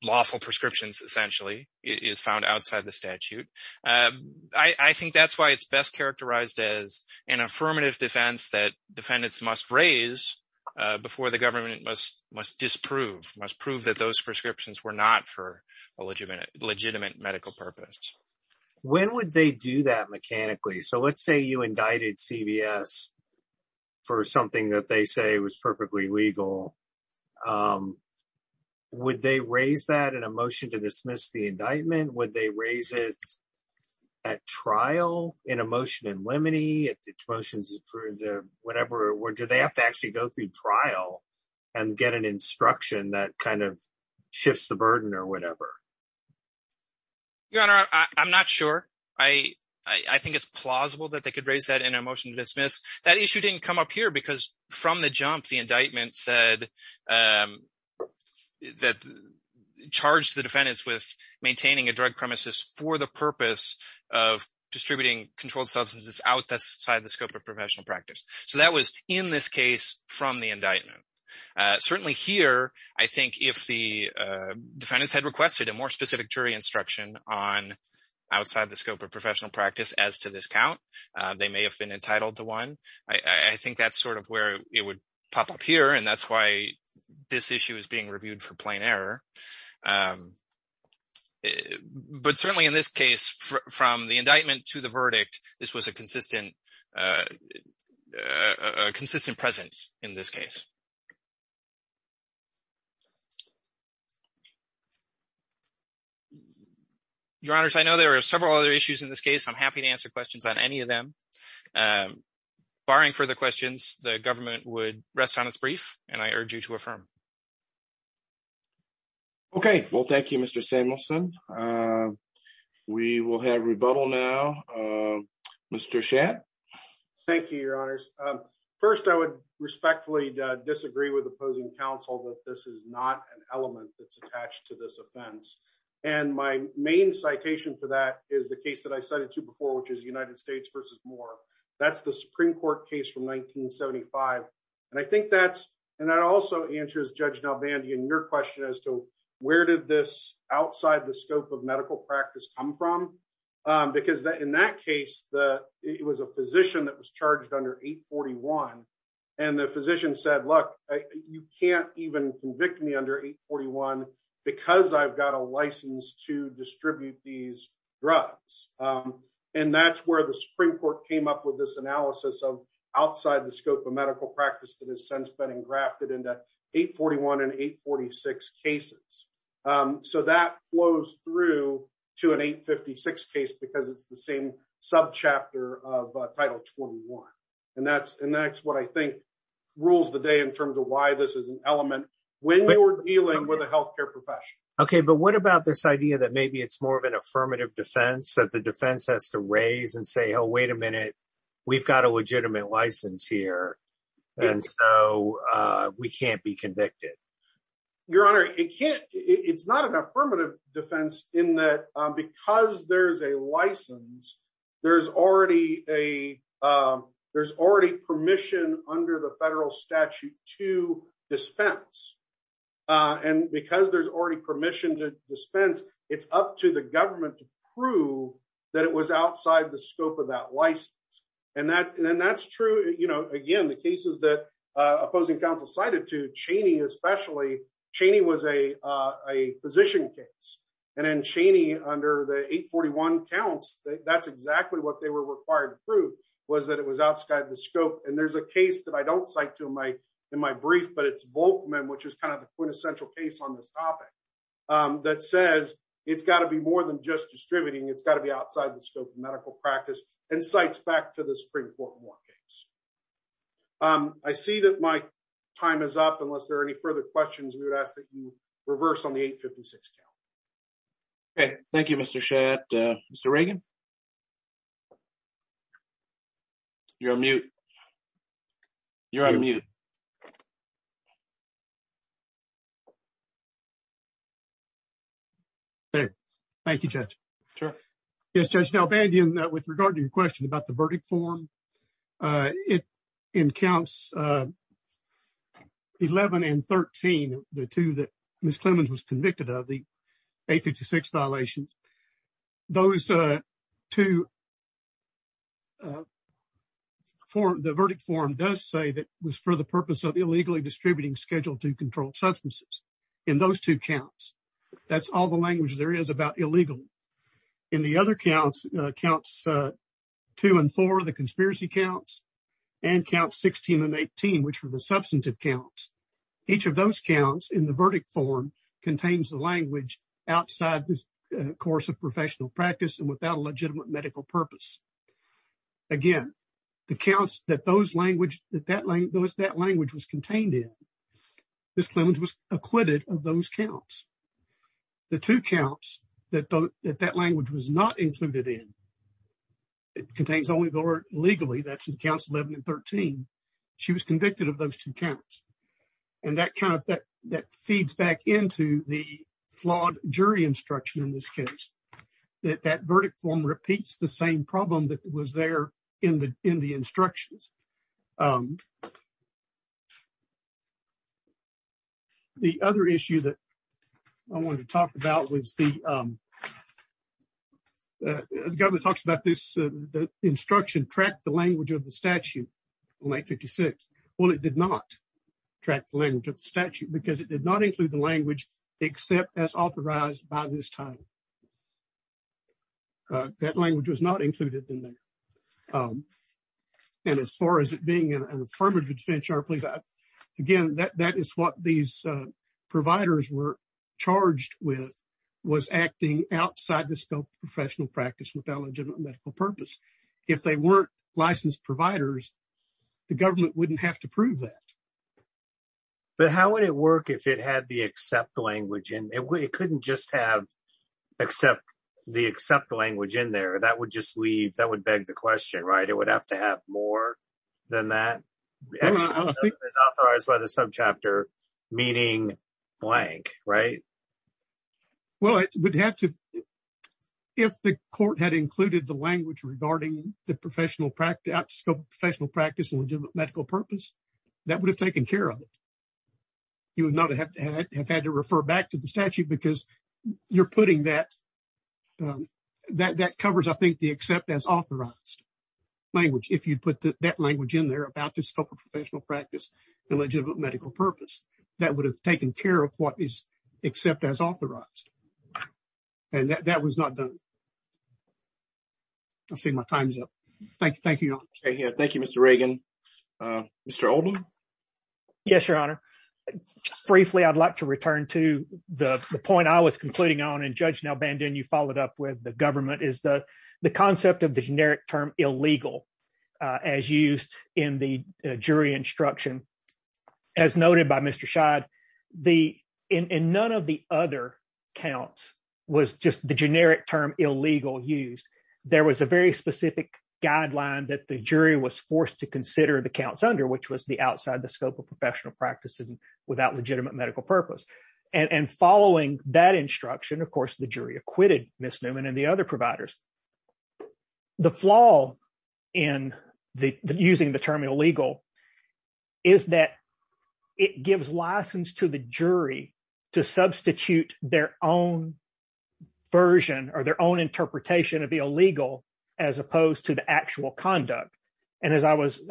lawful prescriptions, essentially, is found outside the statute. I think that's why it's best characterized as an affirmative defense that defendants must raise before the government must disprove, must prove that those prescriptions were not for a legitimate medical purpose. When would they do that mechanically? So let's say you indicted CVS for something that they say was perfectly legal. Would they raise that in a motion to dismiss the indictment? Would they raise it at trial in a motion in limine? If the motion is approved, whatever, or do they have to actually go through trial and get an instruction that kind of shifts the burden or whatever? Your Honor, I'm not sure. I think it's plausible that they could raise that in a motion to dismiss. That issue didn't come up here because from the jump, the indictment said that charged the defendants with maintaining a drug premises for the purpose of distributing controlled substances outside the scope of professional practice. So that was in this case from the indictment. Certainly here, I think if the defendants had requested a more specific jury instruction on outside the scope of professional practice as to this count, they may have been entitled to one. I think that's sort of where it would pop up here. And that's why this issue is being reviewed for plain error. But certainly in this case, from the indictment to the verdict, this was a consistent presence in this case. Your Honor, I know there are several other issues in this case. I'm happy to answer questions on any of them. Barring further questions, the government would rest on its brief and I urge you to affirm. Okay. Well, thank you, Mr. Samuelson. We will have rebuttal now. Mr. Shatt. Thank you, Your Honors. First, I would respectfully disagree with opposing counsel that this is not an element that's attached to this offense. And my main citation for that is the case that I cited to before, which is United States versus Moore. That's the Supreme Court case from 1975. And I think that's and that also answers Judge Nalbandi and your question as to where did this outside the scope of medical practice come from? Because in that case, it was a physician that was charged under 841. And the physician said, look, you can't even convict me under 841 because I've got a license to distribute these drugs. And that's where the Supreme Court came up with this analysis of outside the scope of medical practice that has since been engrafted into 841 and 846 cases. So that flows through to an 856 case because it's the same subchapter of Title 21. And that's and that's what I think rules the day in terms of why this is an element when you're dealing with a health care profession. OK, but what about this idea that maybe it's more of an affirmative defense that the defense has to raise and say, oh, wait a minute, we've got a legitimate license here. And so we can't be convicted. Your Honor, it can't. It's not an affirmative defense in that because there's a license, there's already a there's already permission under the federal statute to dispense. And because there's already permission to dispense, it's up to the government to prove that it was outside the scope of that license. And that and that's true. Again, the cases that opposing counsel cited to Cheney, especially Cheney was a a physician case. And then Cheney under the 841 counts, that's exactly what they were required to prove was that it was outside the scope. And there's a case that I don't cite to my in my brief, but it's Volkman, which is kind of the quintessential case on this topic that says it's got to be more than just distributing. It's got to be outside the scope of medical practice and cites back to the Supreme Court more case. I see that my time is up. Unless there are any further questions, we would ask that you reverse on the 856 count. Okay. Thank you, Mr. Chet. Mr. Reagan. You're on mute. You're on mute. Thank you, Judge. Sure. Yes, Judge Delbandia, with regard to your question about the verdict form, it in counts 11 and 13, the two that Ms. Clemons was convicted of the 856 violations, those two for the verdict form does say that was for the purpose of illegally distributing schedule to control substances. In those two counts, that's all the language there is about illegally. In the other counts, counts two and four, the conspiracy counts and count 16 and 18, which were the substantive counts. Each of those counts in the verdict form contains the language outside this course of professional practice and without a legitimate medical purpose. Again, the counts that that language was contained in, Ms. Clemons was acquitted of those counts. The two counts that that language was not included in, it contains only the word legally, that's in counts 11 and 13. She was convicted of those two counts. And that feeds back into the flawed jury instruction in this case, that that verdict form repeats the same problem that was there in the instructions. Um, the other issue that I wanted to talk about was the, um, the government talks about this instruction, track the language of the statute on 856. Well, it did not track the language of the statute because it did not include the language except as authorized by this time. That language was not included in there. Um, and as far as it being an affirmative defense charge, please, again, that that is what these, uh, providers were charged with was acting outside the scope of professional practice without a legitimate medical purpose. If they weren't licensed providers, the government wouldn't have to prove that. But how would it work if it had the except language in it? It couldn't just have except the except language in there. That would just leave. That would beg the question, right? It would have to have more than that. As authorized by the subchapter, meaning blank, right? Well, it would have to, if the court had included the language regarding the professional practice, professional practice and legitimate medical purpose, that would have taken care of it. You would not have had to refer back to the statute because you're putting that, um, that that covers, I think, the except as authorized language. If you put that language in there about the scope of professional practice, the legitimate medical purpose, that would have taken care of what is except as authorized. And that was not done. I see my time is up. Thank you. Thank you. Thank you, Mr. Reagan. Mr. Oldham. Yes, Your Honor. Just briefly, I'd like to return to the point I was concluding on. You followed up with the government is the concept of the generic term illegal as used in the jury instruction. As noted by Mr. Scheid, in none of the other counts was just the generic term illegal used. There was a very specific guideline that the jury was forced to consider the counts under, which was the outside the scope of professional practice without legitimate medical purpose. And following that instruction, of course, the jury acquitted Ms. Newman and the other providers. The flaw in the using the term illegal is that it gives license to the jury to substitute their own version or their own interpretation of the illegal as opposed to the actual conduct. And as I was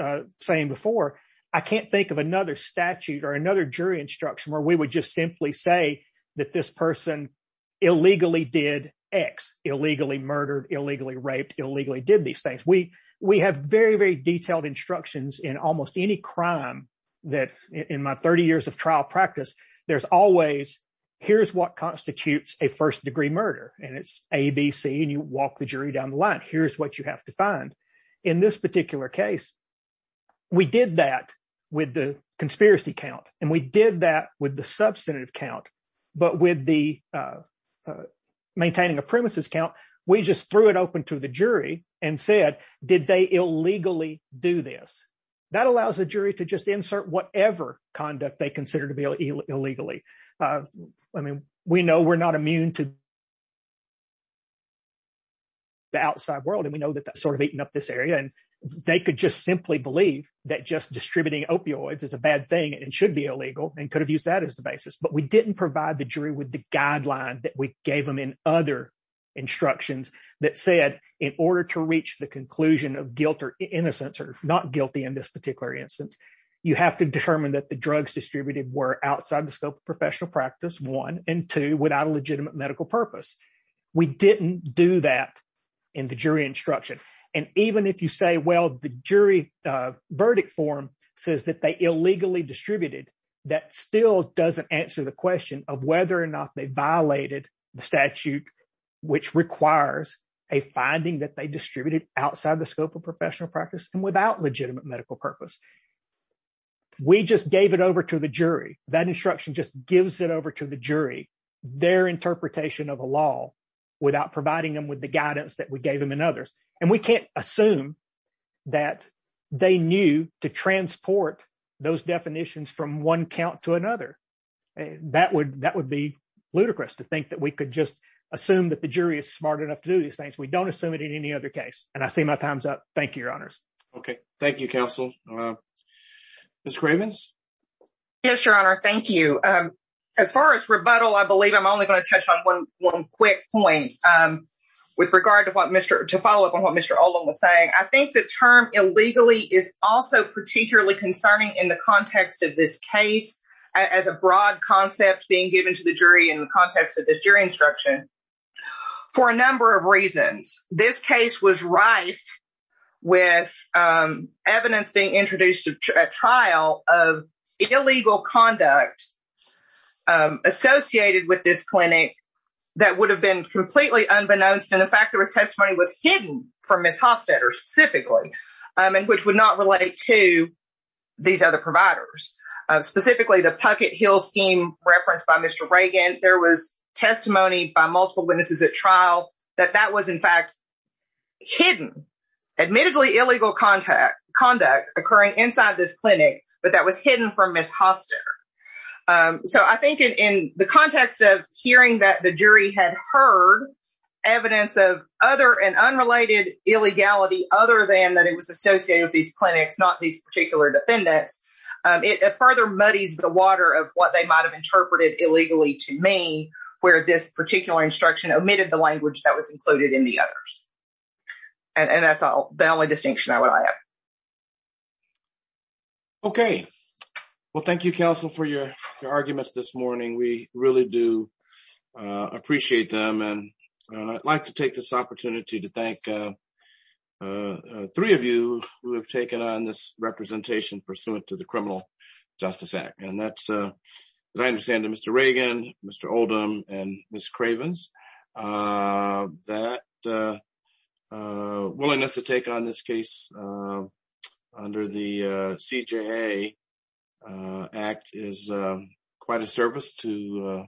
saying before, I can't think of another statute or another jury instruction where we would just simply say that this person illegally did X, illegally murdered, illegally raped, illegally did these things. We have very, very detailed instructions in almost any crime that in my 30 years of trial practice, there's always here's what constitutes a first degree murder. And it's ABC and you walk the jury down the line. Here's what you have to find. In this particular case, we did that with the conspiracy count. And we did that with the substantive count. But with the maintaining a premises count, we just threw it open to the jury and said, did they illegally do this? That allows the jury to just insert whatever conduct they consider to be illegally. I mean, we know we're not immune to the outside world. And we know that that's sort of eaten up this area. And they could just simply believe that just distributing opioids is a bad thing and should be illegal and could have used that as the basis. But we didn't provide the jury with the guideline that we gave them in other instructions that said, in order to reach the conclusion of guilt or innocence or not guilty in this particular instance, you have to determine that the drugs distributed were outside the scope of professional practice, one, and two, without a legitimate medical purpose. We didn't do that in the jury instruction. And even if you say, well, the jury verdict form says that they illegally distributed, that still doesn't answer the question of whether or not they violated the statute, which requires a finding that they distributed outside the scope of professional practice and without legitimate medical purpose. We just gave it over to the jury. That instruction just gives it over to the jury, their interpretation of a law without providing them with the guidance that we gave them in others. We can't assume that they knew to transport those definitions from one count to another. That would be ludicrous to think that we could just assume that the jury is smart enough to do these things. We don't assume it in any other case. And I see my time's up. Thank you, Your Honors. Okay. Thank you, Counsel. Ms. Cravens? Yes, Your Honor. Thank you. As far as rebuttal, I believe I'm only going to touch on one quick point with regard to follow up on what Mr. Olin was saying. I think the term illegally is also particularly concerning in the context of this case as a broad concept being given to the jury in the context of this jury instruction for a number of reasons. This case was rife with evidence being introduced to a trial of illegal conduct associated with this clinic that would have been completely unbeknownst. And the fact there was testimony was hidden from Ms. Hofstetter specifically, and which would not relate to these other providers. Specifically, the Puckett-Hill scheme referenced by Mr. Reagan, there was testimony by multiple witnesses at trial that that was, in fact, hidden, admittedly illegal conduct occurring inside this clinic, but that was hidden from Ms. Hofstetter. So, I think in the context of hearing that the jury had heard evidence of other and unrelated illegality other than that it was associated with these clinics, not these particular defendants, it further muddies the water of what they might have interpreted illegally to me, where this particular instruction omitted the language that was included in the others. And that's all the only distinction I would add. Okay, well, thank you, counsel, for your arguments this morning. We really do appreciate them. And I'd like to take this opportunity to thank three of you who have taken on this representation pursuant to the Criminal Justice Act. And that's, as I understand it, Mr. Reagan, Mr. Oldham, and Ms. Cravens, that willingness to take on this case under the CJA Act is quite a service to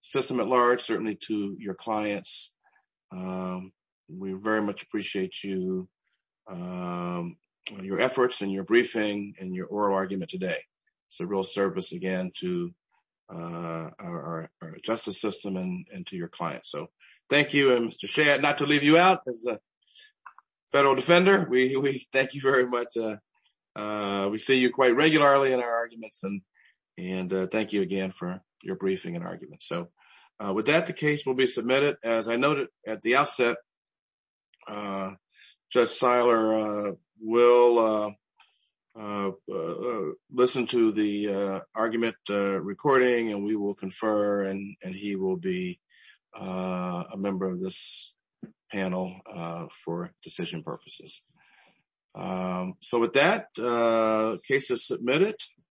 system at large, certainly to your clients. We very much appreciate you, your efforts and your briefing and your oral argument today. It's a real service again to our justice system and to your clients. Thank you. And Mr. Shea, not to leave you out, as a federal defender, we thank you very much. We see you quite regularly in our arguments. And thank you again for your briefing and arguments. So with that, the case will be submitted. As I noted at the outset, Judge Seiler will listen to the argument recording and we will a member of this panel for decision purposes. So with that, the case is submitted.